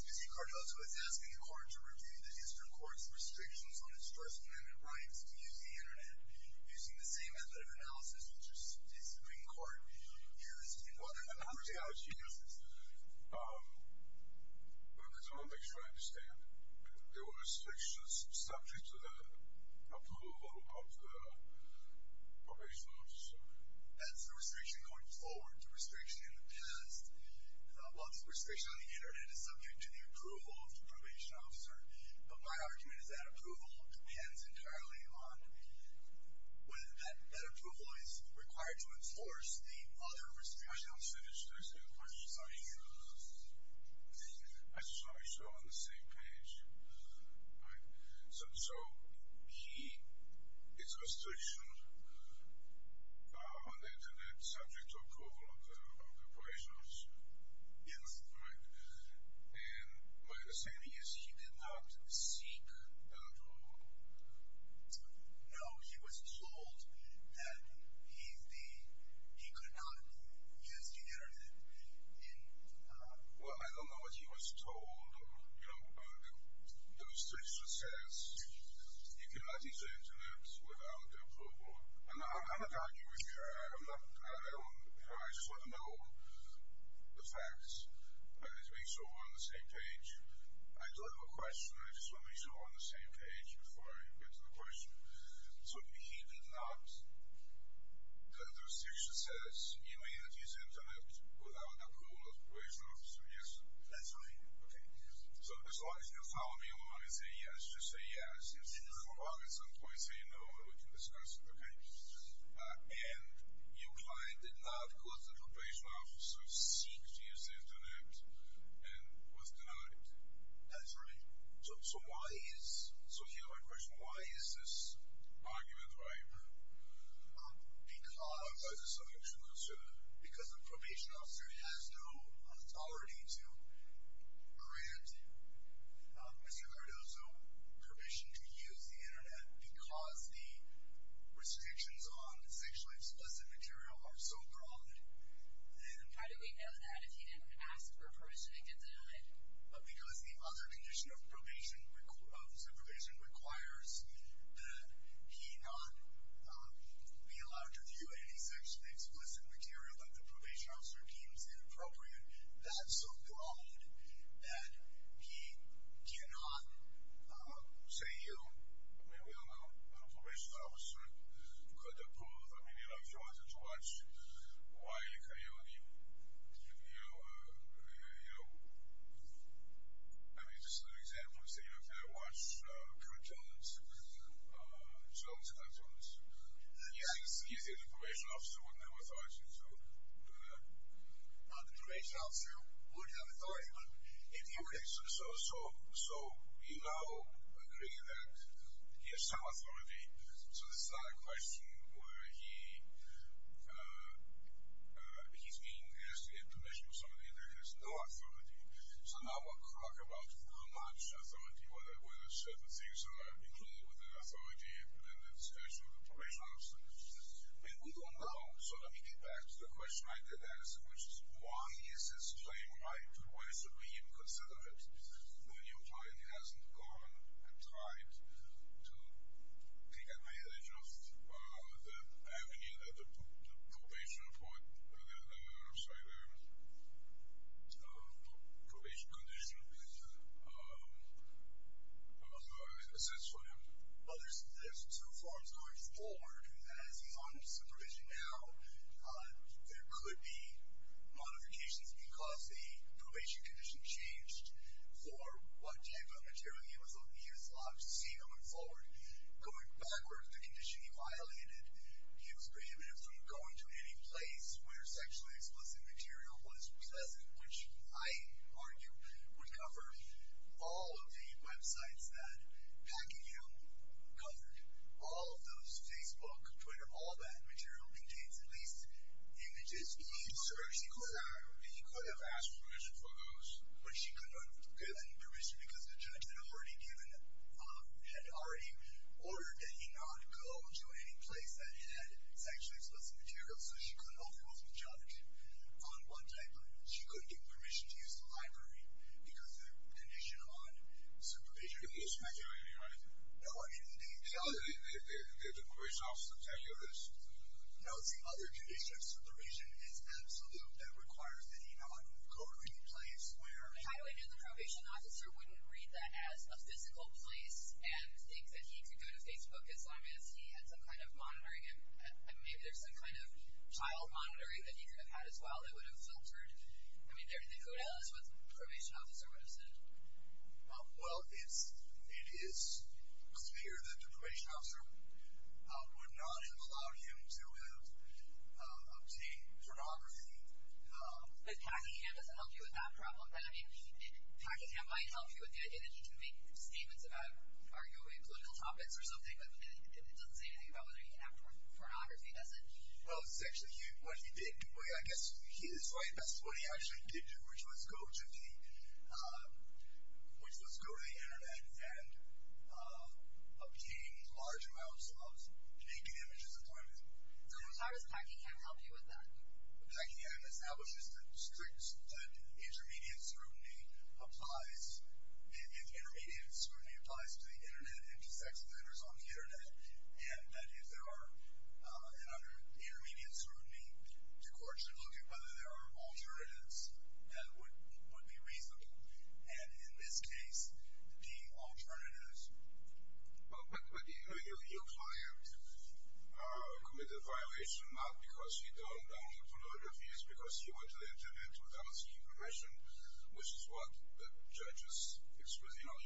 Mr. Cardoso is asking the court to review the Eastern Court's restrictions on its First Amendment rights to use the Internet, using the same method of analysis which the Supreme Court used in other court cases. Um, because I don't think she would understand. There were restrictions subject to the approval of the probation officer. That's the restriction going forward, the restriction in the past. Well, the restriction on the Internet is subject to the approval of the probation officer. But my argument is that approval depends entirely on whether that approval is required to enforce the other restrictions. I don't finish this. I'm sorry. I'm sorry. So, on the same page. Right. So, he is a restriction on the Internet subject to approval of the probation officer. Yes. Right. And my understanding is he did not seek approval. No, he was told that he could not use the Internet. Well, I don't know what he was told. You know, there was strict success. You cannot use the Internet without approval. I'm not arguing with you. I just want to know the facts. I just want to make sure we're on the same page. I don't have a question. I just want to make sure we're on the same page before I get to the question. So, he did not. The restriction says you may not use the Internet without approval of the probation officer. Yes. That's right. Okay. So, as long as you follow me all along and say yes, just say yes. As long as at some point you say no and we can discuss it, okay. And your client did not cause the probation officer to seek to use the Internet and was denied. That's right. So, here's my question. Why is this argument valid? Because the probation officer has no authority to grant Mr. Cardozo permission to use the Internet because the restrictions on sexually explicit material are so broad. How do we know that if he didn't ask for permission and get denied? Because the other condition of probation requires that he not be allowed to view any sexually explicit material that the probation officer deems inappropriate. That's so broad that he cannot say, you know. I mean, we don't know if a probation officer could approve. I mean, you know, if you wanted to watch Wiley Coyote, you know, I mean, just as an example, you say, you know, if you want to watch Kurt Jones, Jones, you'd say the probation officer wouldn't have authority to do that. The probation officer would have authority. Okay. So, you now agree that he has some authority. So, this is not a question where he's being asked to get permission from somebody that has no authority. So, now we'll talk about how much authority, whether certain things are included within authority and it's actually the probation officer. I mean, we don't know. So, let me get back to the question I did ask, which is why is this claim right? Why should we even consider it when your client hasn't gone and tried to take advantage of the avenue that the probation court, I'm sorry, the probation condition, sets for him? Well, there's two forms going forward. As he's under supervision now, there could be modifications because the probation condition changed for what type of material he was allowed to see going forward. Going backward, the condition he violated, he was prohibited from going to any place where sexually explicit material was pleasant, which I argue would cover all of the websites that Packingham covered. All of those, Facebook, Twitter, all that material contains at least images. He could have asked permission for those. But she couldn't have given permission because the judge had already ordered that he not go to any place that had sexually explicit material. So, she couldn't, of course, judge on what type of, she couldn't give permission to use the library because the condition on supervision. It was Packingham, right? No, I mean, the probation officer, Packingham, knows the other conditions. Supervision is absolute. That requires that he not go to any place where. How do I know the probation officer wouldn't read that as a physical place and think that he could go to Facebook as long as he had some kind of monitoring, and maybe there's some kind of child monitoring that he could have had as well that would have filtered. I mean, who knows what the probation officer would have said. Well, it is clear that the probation officer would not have allowed him to have obtained pornography. If Packingham doesn't help you with that problem, then, I mean, Packingham might help you with the idea that he can make statements about, argue away political topics or something, but it doesn't say anything about whether he can have pornography, does it? Well, it's actually what he did. I guess he is right. That's what he actually did do, which was go to the Internet and obtain large amounts of naked images of pornography. So how does Packingham help you with that? Packingham establishes that strict, that intermediate scrutiny applies, if intermediate scrutiny applies to the Internet and to sex offenders on the Internet, and that if there are, and under intermediate scrutiny, the court should look at whether there are alternatives that would be reasonable, and in this case, the alternatives. Well, but your client committed a violation not because he donned pornography, it's because he went to the Internet without seeking permission, which is what the judges explicitly, you know,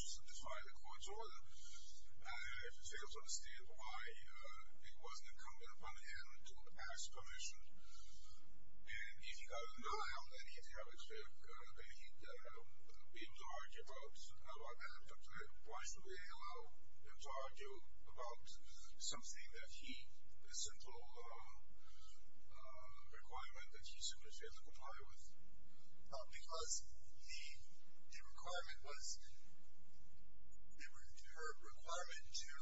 justify the court's order. If he fails to understand why it wasn't incumbent upon him to ask permission, and if he got a denial, then he'd have to be interrogated about that. Why should we allow him to argue about something that he, a simple requirement that he simply failed to comply with? Because the requirement was, her requirement to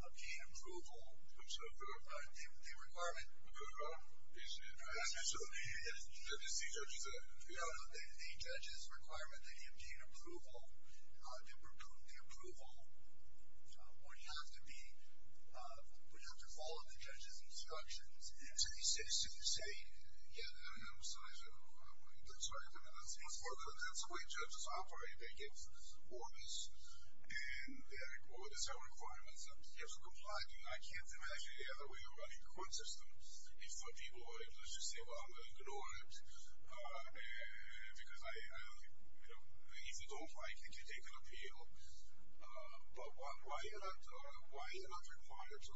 obtain approval, the requirement, the judge's requirement that he obtain approval, the approval would have to be, would have to follow the judge's instructions. So you say, yeah, I'm sorry, that's the way judges operate, they give orders, and they have orders, they have requirements, and if he doesn't comply, I mean, I can't imagine the other way of running the court system, if people are able to just say, well, I'm going to ignore it, because I, you know, if you don't like it, you take an appeal. But why are you not required to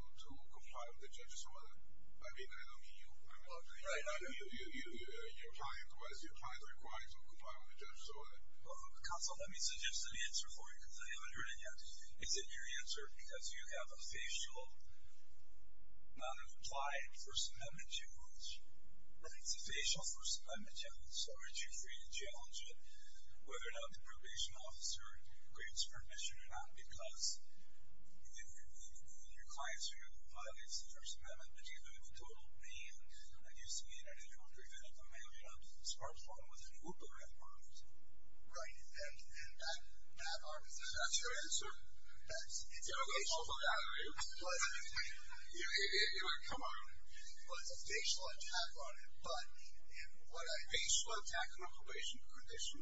comply with the judge's order? I mean, I don't mean you. I mean, your client requires you to comply with the judge's order. Counsel, let me suggest an answer for you, because I haven't heard it yet. Is it your answer, because you have a facial, not an implied First Amendment challenge? I think it's a facial First Amendment challenge. So are you too free to challenge it, whether or not the probation officer agrees to permission or not, because your clients are your clients, it's the First Amendment, but you have a total ban that used to be an individual treatment at the mail shop, the Starbucks bar, and it was an Uber at the bar. Right. And that argument is not your answer. It's a facial attack. You're a come on. Well, it's a facial attack on it, but in what a facial attack on a probation condition,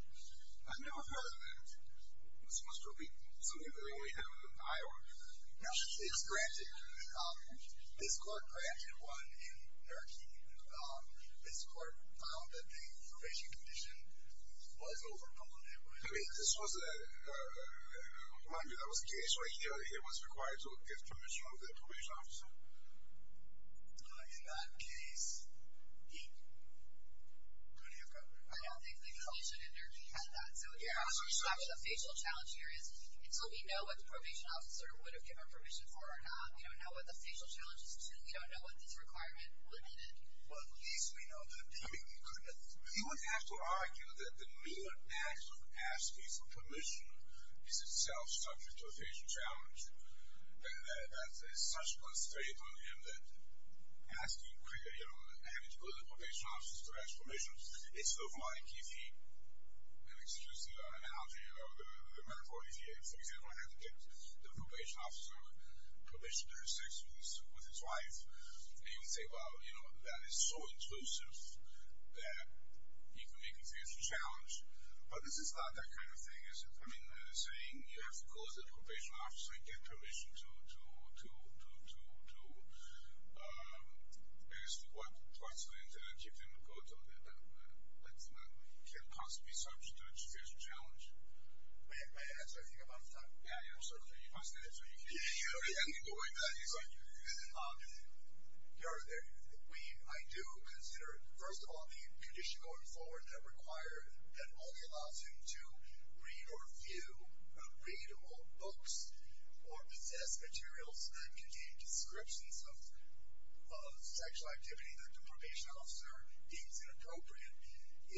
I've never heard of that. It's supposed to be something that only happened in Iowa. No, it's granted. This court granted one in Newark City. This court found that the probation condition was over-complimented. I mean, this wasn't a come on, dude, that was a case, right here it was required to give permission to the probation officer? In that case, he couldn't have covered it. I don't think the counsel in Newark City had that. Yeah, absolutely. So the facial challenge here is until we know what the probation officer would have given permission for or not, we don't know what the facial challenge is until we don't know what this requirement would have been. Well, at least we know that he couldn't have covered it. You would have to argue that the Newark act of asking for permission is itself subject to a facial challenge. There's such good faith on him that asking, having to go to the probation officer to ask permission, it's sort of like if he, and this is just an analogy, if he, for example, had to get the probation officer permission to have sex with his wife, and you would say, well, you know, that is so intrusive that he could make a facial challenge. But this is not that kind of thing, is it? I mean, saying you have to go to the probation officer to get permission is what's going to give him the go-to. That's not, can't possibly substitute facial challenge. May I answer? I think I'm out of time. Yeah, yeah, certainly. You must answer. You can't end it the way that you started. I do consider, first of all, the condition going forward that required that only allows him to read or view, read old books or possess materials that contain descriptions of sexual activity that the probation officer deems inappropriate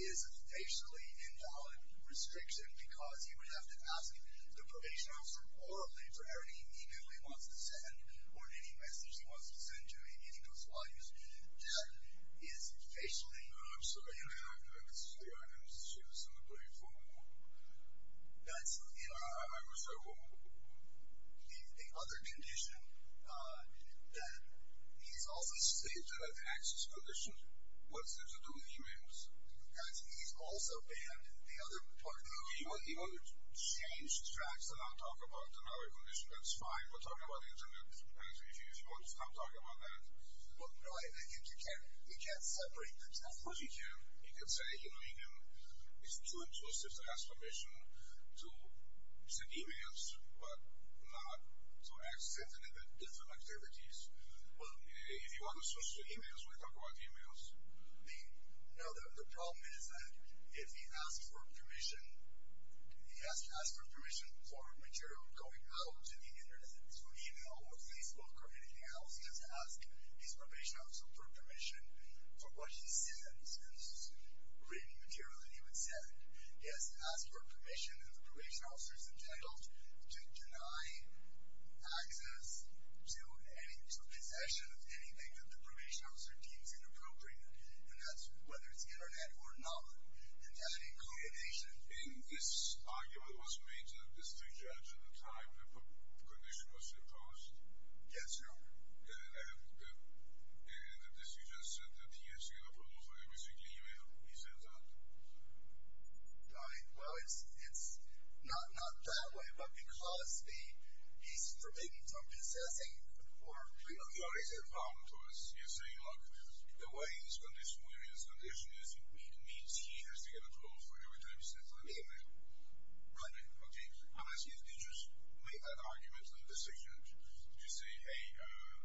is a facially invalid restriction because he would have to ask the probation officer morally for everything he really wants to send or any message he wants to send to any cause while he's dead is facially invalid. I can see this in the brief. That's the other condition that he's also... The Internet access condition? What's it to do with humans? He's also banned the other part of the Internet. He won't change the facts and not talk about another condition. That's fine. We're talking about the Internet. If he wants, I'm talking about that. No, you can't separate the two. Of course you can. You can say he's too intrusive to ask permission to send e-mails but not to access any of the different activities. If he wants to send e-mails, we're talking about e-mails. No, the problem is that if he asks for permission, he has to ask for permission for material going out to the Internet, through e-mail or Facebook or anything else, he has to ask his probation officer for permission for what he sends, written material that he would send. He has to ask for permission, and the probation officer is entitled to deny access to possession of anything that the probation officer deems inappropriate, and that's whether it's Internet or not. And that in combination... And this argument was made to the district judge at the time the condition was proposed? Yes, Your Honor. And the district judge said that he has to get approval for every single e-mail he sends out? Well, it's not that way, but because he's forbidden from possessing or... Well, here's the problem to us. You're saying, look, the way his condition, the way his condition is, it means he has to get approval for every time he sends out an e-mail? Right. Okay, unless you did just make an argument, a decision, did you say, hey,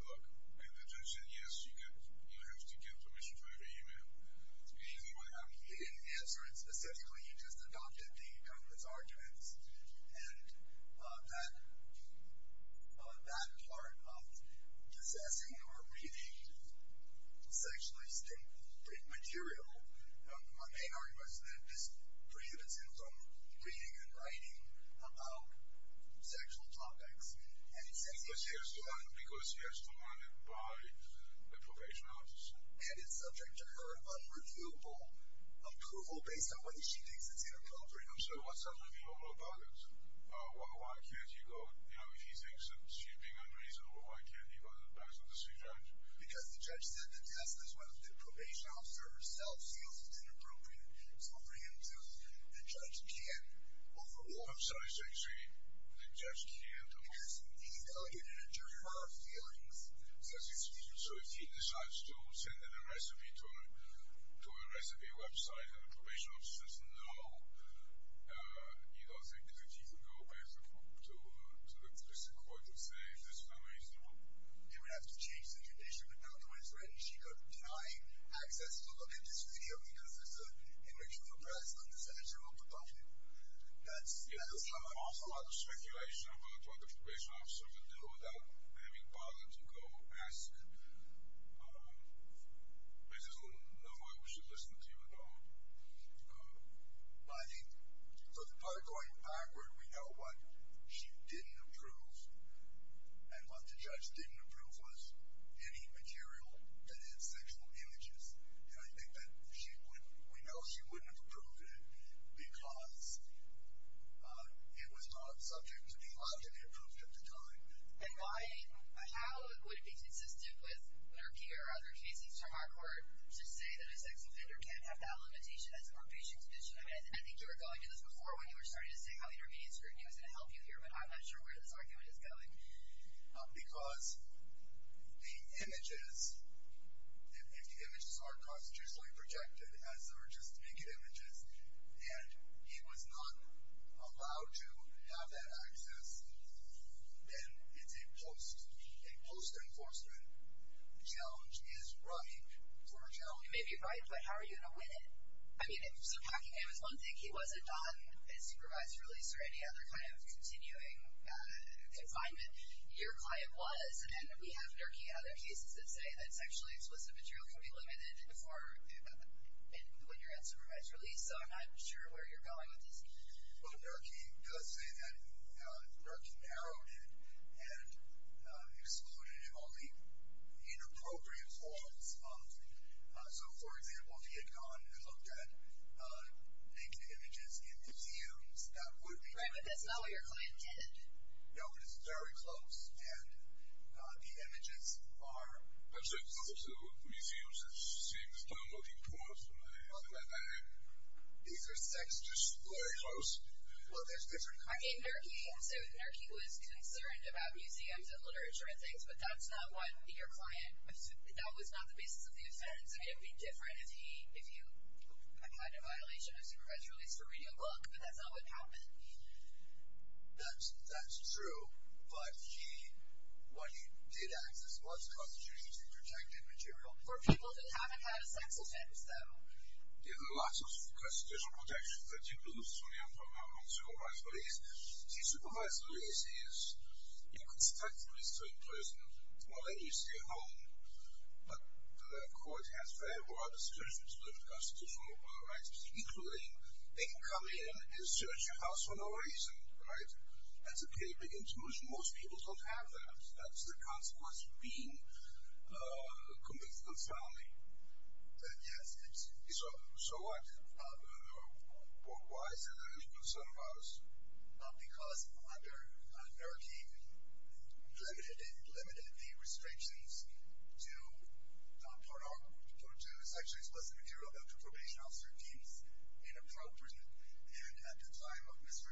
look, and the judge said, yes, you have to get permission for every e-mail? Anything like that? He didn't answer it specifically. He just adopted the government's arguments, and that part of possessing or reading sexually stigmatized material, my main argument is that it's prohibited from reading and writing about sexual topics, because he has to learn it by the probation officer. And it's subject to her unreviewable approval based on whether she thinks it's inappropriate. So what's that reviewable about? Why can't he go, you know, if he thinks that she's being unreasonable, why can't he go to the back of the district judge? Because the judge said the test is whether the probation officer herself feels it's inappropriate. So for him to, the judge can't overrule. I'm sorry, so you're saying the judge can't overrule? Because he's elevated it to her feelings. So if he decides to send in a recipe to a recipe website, and the probation officer says no, you don't think that he can go to the court and say, if this is not reasonable? They would have to change the condition, but now the way it's written, she could deny access to look at this video because there's an image of a breast on the side, she won't look at it. Yeah, there's also a lot of speculation about what the probation officer would do without having bothered to go ask. There's just no way we should listen to you at all. Well, I think for the part of going backward, we know what she didn't approve, and what the judge didn't approve was any material that had sexual images. And I think that we know she wouldn't have approved it because it was not subject to being allowed to be approved at the time. And why? How would it be consistent with their peer or other cases from our court to say that a sexual offender can't have that limitation as a probation condition? I mean, I think you were going into this before when you were starting to say how intervening scrutiny was going to help you here, but I'm not sure where this argument is going. Because the images, if the images are constitutionally projected as they were just naked images, and he was not allowed to have that access, then it's a post-enforcement challenge is right for a challenge. It may be right, but how are you going to win it? I mean, so packing in was one thing, he wasn't on a supervised release or any other kind of continuing confinement. Your client was, and we have Nurki and other cases that say that sexually explicit material can be limited when you're at supervised release, so I'm not sure where you're going with this. Well, Nurki does say that Nurki narrowed it and excluded it only in appropriate forms. So, for example, if he had gone and looked at naked images in museums, that would be right. Right, but that's not what your client did. No, but it's very close, and the images are... I'm sorry, I'm talking about museums. I'm looking at porn. These are sex just very close. Well, there's different kinds. I hate Nurki. I'm sorry, Nurki was concerned about museums and literature and things, but that's not what your client, that was not the basis of the offense. I mean, it would be different if you had a violation of supervised release for reading a book, but that's not what happened. That's true, but what he did access was constitutionally protected material. For people who haven't had a sexual offense, though. There's lots of constitutional protections that you can use when you're on supervised release. See, supervised release is you can expect the police to imprison or let you stay home, but the court has very broad assertions to limit constitutional rights, including they can come in and search your house for no reason, right? That's a very big intrusion. Most people don't have that. That's the consequence of being convicted of felony. Yes. So what? Why is there any concern about us? Because under Nurki, it limited the restrictions to pornography, to sexually explicit material that the probation officer deems inappropriate, and at the time of Mr.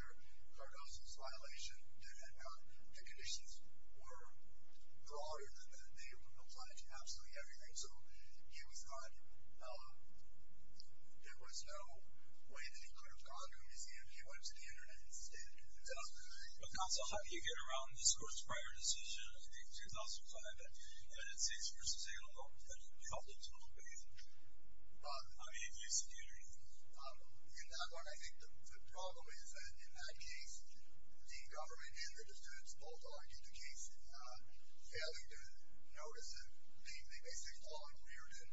Cardoso's violation, the conditions were broader than that. They applied to absolutely everything. So he was not, there was no way that he could have gone to a museum. He went to the Internet instead. Counsel, how do you get around this court's prior decision in 2005 that it's these persons that you don't know? I mean, if you see the Internet. In that one, I think the problem is that in that case, the government and the students both argued the case, failing to notice it. They basically called it weird, and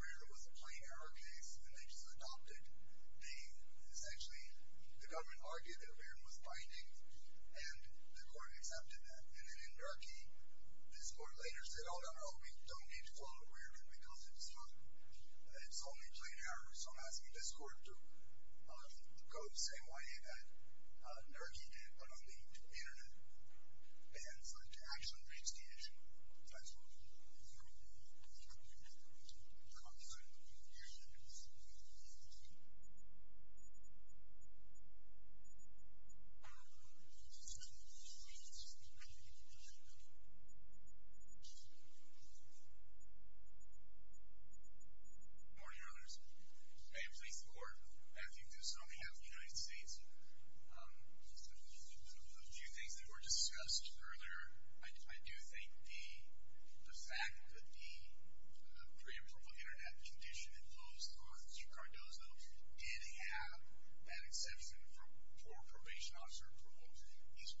weird was a plain error case, and they just adopted it. Essentially, the government argued that weird was binding, and the court accepted that. And then in Nurki, this court later said, oh, no, no, we don't need to call it weird because it's only a plain error. So I'm asking this court to go the same way that Nurki did, but on the Internet. And so to actually reach the issue. Thanks a lot. I think I'm going to interrupt Zach. Good morning, others. Good morning. I thank the court on behalf of the United States. Just a few things that were discussed earlier. I do think the fact that the pre-approval internet condition imposed on Mr. Cardozo did have that exception for probation officer approval. At least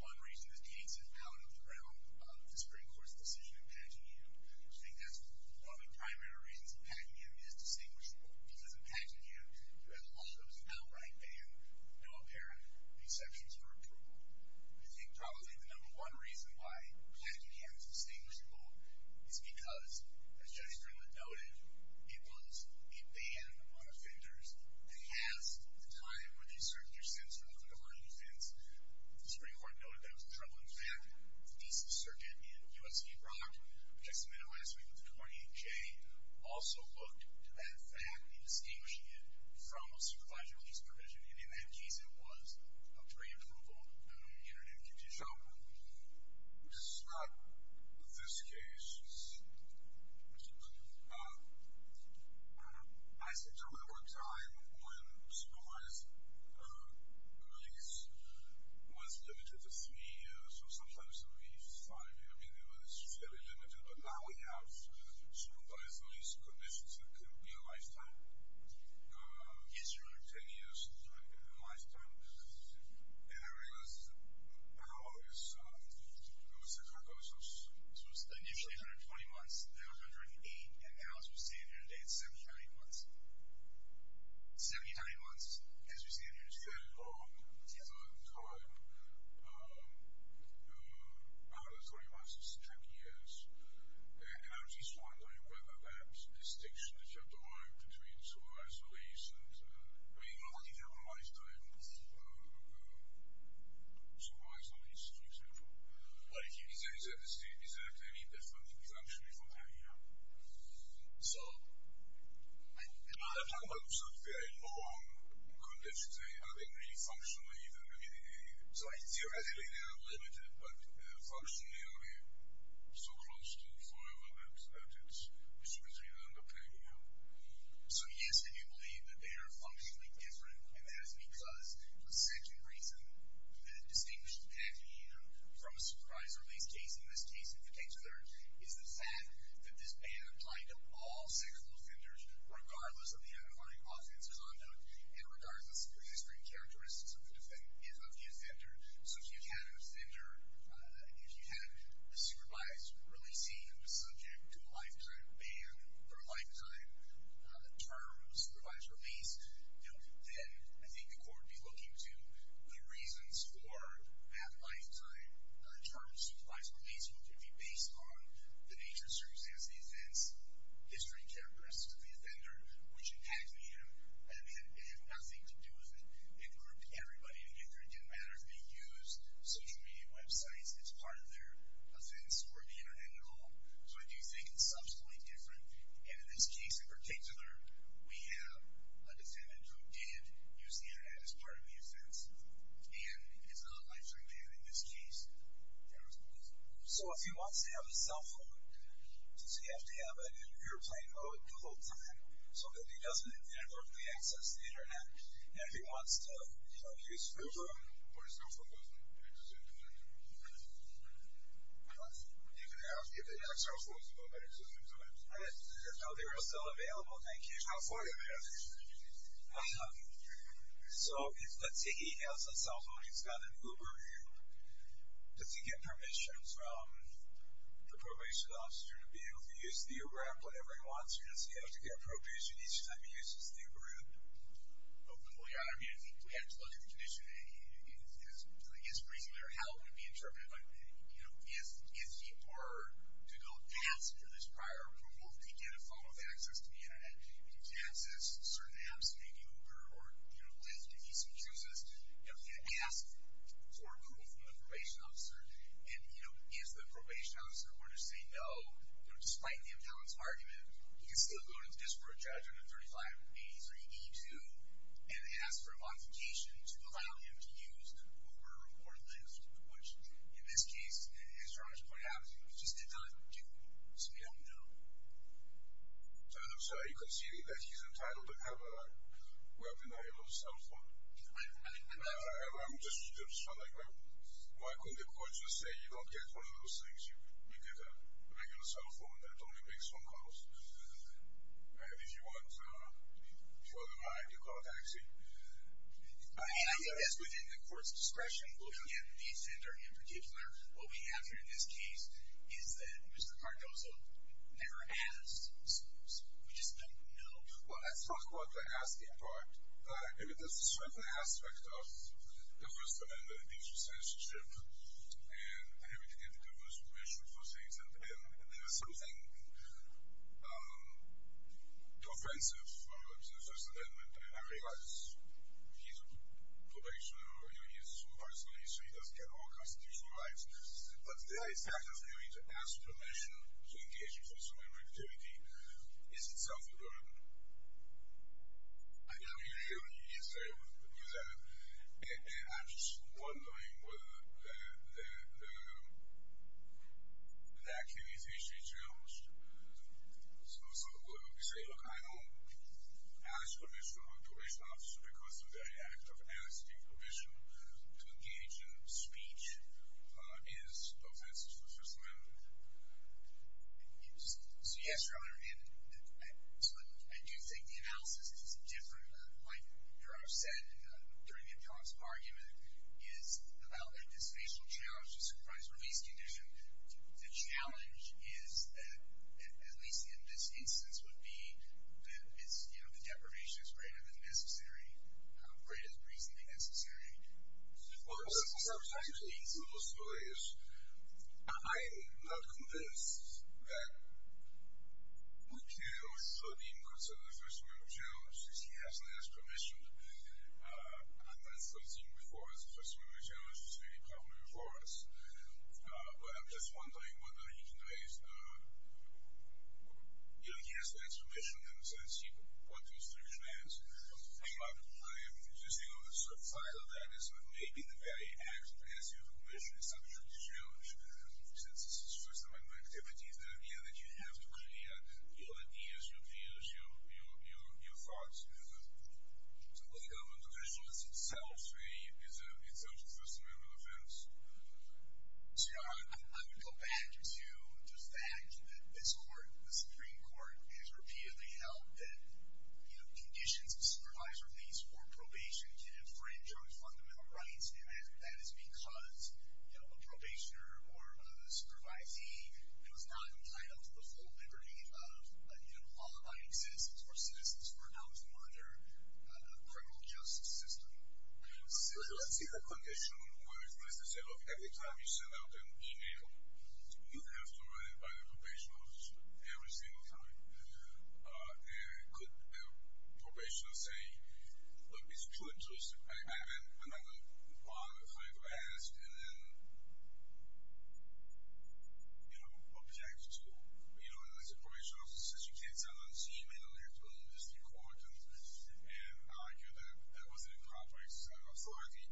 one reason is he didn't sit out of the round of the Supreme Court's decision impacting him. I think that's one of the primary reasons impacting him is distinguishable. If he doesn't impact him, you have a law that was outright banned, no apparent exceptions for approval. I think probably the number one reason why impacting him is distinguishable is because, as Judge Drennan noted, it was a ban on offenders past the time where these circuitous sins were not an emergency offense. The Supreme Court noted that it was a troubling fact that the DC Circuit in USC Brock, which was submitted last week with the 28-J, also looked to that fact in distinguishing it from a supervised release provision. And in that case, it was a pre-approval internet condition. So, it's not this case. I still remember a time when supervised release was limited to three, so sometimes it would be five. I mean, it was fairly limited, but now we have supervised release conditions that could be a lifetime. Yes, Your Honor. Ten years. A lifetime. And I realize how obvious that was. So, it was initially 120 months, then 108, and now as we stand here today, it's 79 months. 79 months, as we stand here today. So, it's a fairly long time out of three months to two years. And I was just wondering whether that distinction, if you have to argue between supervised release and... I mean, what if you have a lifetime of supervised release, for example? Well, if you... Is there any different exemption for that here? So... I'm talking about very long conditions. Are they really functionally... So, theoretically, they are limited, but functionally, are they so close to forever that it's really underplayed? So, yes, I do believe that they are functionally different, and that's because the second reason that distinguishes that from a supervised release case and this case in particular is the fact that this ban applied to all sexual offenders, regardless of the underlying offense conduct, and regardless of the history and characteristics of the offender. So, if you had an offender... If you had a supervised releasee who was subject to a lifetime ban or a lifetime term of supervised release, then I think the court would be looking to the reasons for that lifetime term of supervised release, which would be based on the nature and circumstances of the offense, history and characteristics of the offender, which in fact may have had nothing to do with it. It grouped everybody together. It didn't matter if they used social media websites as part of their offense or the Internet at all. So, I do think it's substantially different, and in this case in particular, we have a defendant who did use the Internet as part of the offense and is not a lifetime ban in this case. So, if he wants to have a cell phone, does he have to have it in airplane mode the whole time so that he doesn't inadvertently access the Internet? And if he wants to, you know, use Uber... Or his cell phone doesn't exist in the Internet? What? He can have... If he had a cell phone, does he have access to the Internet? No, they are still available. Thank you. How far do they have to use the Internet? So, let's say he has a cell phone. He's got an Uber. Does he get permissions from the probation officer to be able to use the Uber app whenever he wants? Or does he have to get appropriation each time he uses the Uber app? Well, Your Honor, I mean, if we had to look at the condition, it is reasonably or how it would be interpreted. You know, if he were to go past this prior approval, if he did have follow-up access to the Internet, to access certain apps, maybe Uber or, you know, Lyft, if he chooses, you know, he'd ask for approval from the probation officer. And, you know, if the probation officer were to say no, you know, despite the impound's argument, he could still go to the district judge on a 3580 or an E2 and ask for a modification to allow him to use Uber or Lyft, which, in this case, as Your Honor's point out, he just did not do. So we don't know. Your Honor, I'm sorry. You can see that he's entitled to have a web-enabled cell phone. I'm just trying to, like, why couldn't the court just say you don't get one of those things? You get a regular cell phone that only makes phone calls. And if you want to go on a ride, you call a taxi. And I think that's within the court's discretion looking at the offender in particular. What we have here in this case is that Mr. Cardozo never asked. So we just don't know. Well, that's not quite the asking part. I mean, there's a certain aspect of the First Amendment, the use of censorship, and having to get the divorce permission for things. And there was something, um, offensive from the First Amendment. And I realize he's probationary, or he's partisan, so he doesn't get all constitutional rights. But the fact of having to ask permission to engage in First Amendment activity is itself a burden. I know he really is there. And I'm just wondering whether that can be sufficiently challenged. So the point would be to say, look, I don't ask permission from a probation officer because of their act of asking permission to engage in speech is offensive to the First Amendment. So, yes, Your Honor, and I do think the analysis is different. Like Your Honor said during the impounding argument is about anticipation of challenge to a supervised release condition. The challenge is that, at least in this instance, would be that it's, you know, the deprivation is greater than necessary. How great is reason than necessary? Well, the thing is, I'm not convinced that we can include him in the First Amendment challenge. He hasn't asked permission. I've not seen him before as a First Amendment challenger. So I don't think that's really probably for us. But I'm just wondering whether he can raise the, you know, he has to ask permission in a sense he could point to a solution as. But I'm just thinking of a certain side of that is that maybe the very act of asking permission is subject to challenge. Since this is First Amendment activity, it's the idea that you have to create your ideas, your views, your thoughts. So look at him as a specialist himself. He's a First Amendment defense. Your Honor, I would go back to the fact that this Court, the Supreme Court, has repeatedly held that conditions of supervised release or probation can infringe on fundamental rights and that is because a probationer or a supervisee is not entitled to the full liberty of qualifying citizens or citizens who are held under a criminal justice system. So I see that condition where, let's just say, look, every time you send out an email, you have to run it by the probation officer every single time. Could a probationer say, look, it's too intrusive. I'm not going to go on and try to ask and then, you know, object to. You know, unless the probation officer says you can't send out an email, you have to go to the district court and argue that that was an incorporated authority.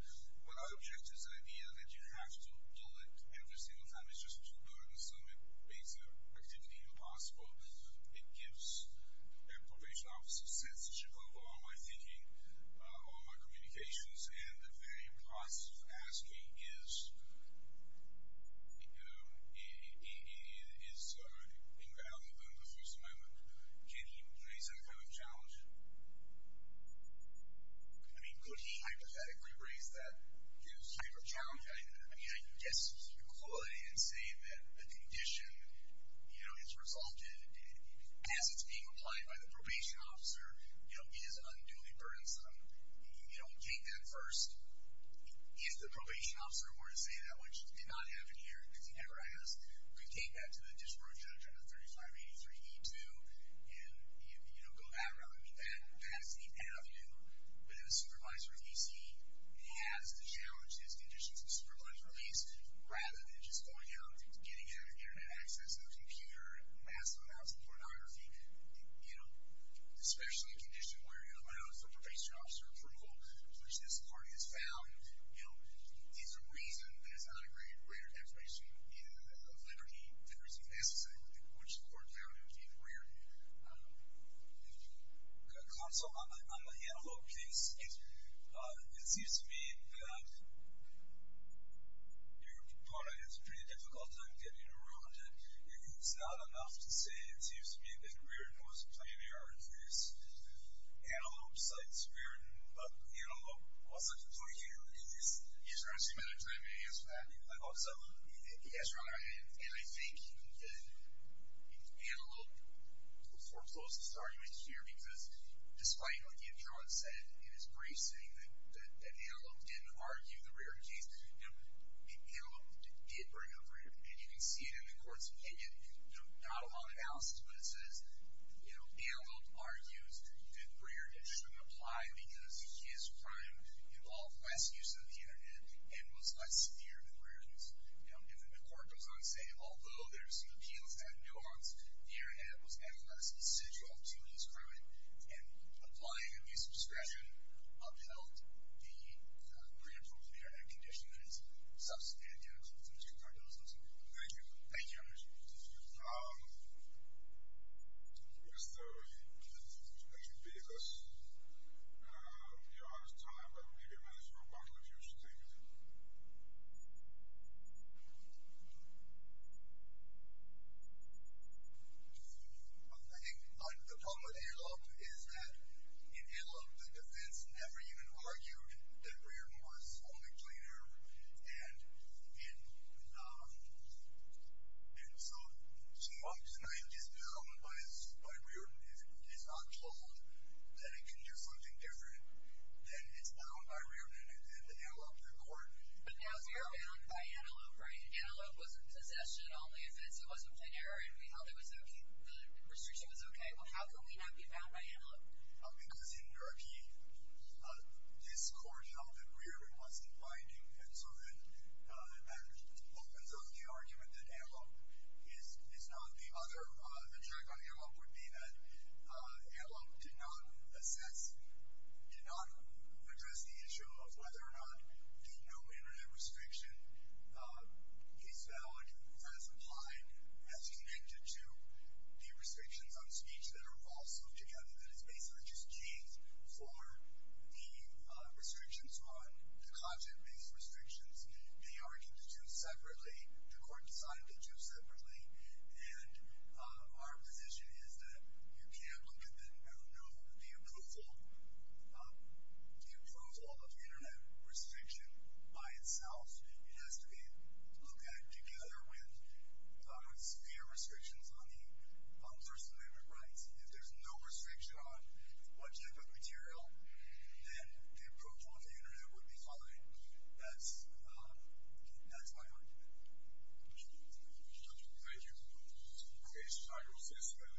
But I object to this idea that you have to do it every single time. It's just too burdensome. It makes the activity impossible. It gives a probation officer's sensitive of all my thinking, all my communications, and the very process of asking is, you know, is being valid on the first amendment. Can he raise that kind of challenge? I mean, could he hypothetically raise that kind of challenge? I mean, yes, you could and say that the condition, you know, is resulted, as it's being applied by the probation officer, you know, is unduly burdensome. You know, we'll take that first. If the probation officer were to say that, which did not happen here because he never asked, we'd take that to the district court judge on the 3583E2 and, you know, go that route. I mean, that has to be paid out of you. But in a supervised release, he has the challenges, conditions of supervised release, rather than just going out and getting internet access on the computer, massive amounts of pornography, you know, especially in a condition where he allows the probation officer approval, which this party has found, you know, is a reason that has out-of-graded greater defamation of liberty than is necessary, which the court found to be a priority. Counsel, I'm going to add a little piece. It seems to me that your partner has a pretty difficult time getting around it. It's not enough to say, it seems to me, that Reardon was a primary artist. Antelope cites Reardon, but Antelope also complains. Yes, Your Honor, it's a matter of time. May I ask Pat? I apologize. Yes, Your Honor, and I think that Antelope forecloses the argument here because despite what the attorney said in his brief saying that Antelope didn't argue the Reardon case, you know, Antelope did bring up Reardon. And you can see it in the court's opinion, you know, not on analysis, but it says, you know, Antelope argues that Reardon shouldn't apply because his crime involved less use of the Internet and was less severe than Reardon's. You know, and then the court goes on to say, although there's some appeals that have nuance, Reardon was nevertheless essential to his crime, and applying abuse of discretion upheld the reapproval of the Internet condition Thank you. Thank you, Your Honor. Yes, Your Honor. Mr. Peters, Your Honor's time, maybe a minute or a couple of years to take. I think the problem with Antelope is that in Antelope the defense never even argued that Reardon was only plain error. And so if someone tonight is bound by Reardon, is not told that it can do something different, then it's bound by Reardon and the Antelope court. But now if you're bound by Antelope, right, Antelope was a possession only offense, it wasn't plain error, and we held it was okay, the restriction was okay. Well, how can we not be bound by Antelope? Because in Murphy, this court held that Reardon wasn't binding, and so then that opens up the argument that Antelope is not the other. The track on Antelope would be that Antelope did not assess, did not address the issue of whether or not the no Internet restriction is valid, as implied, as connected to the restrictions on speech that are also together, that it's basically just keys for the restrictions on the content-based restrictions. They argued to do separately. The court decided to do separately, and our position is that you can't look at the approval of Internet restriction by itself. It has to be looked at together with sphere restrictions on the First Amendment rights. If there's no restriction on what type of material, then the approval of the Internet would be valid. That's my argument. Thank you. Okay, Mr. Tiger, we'll see you in a second.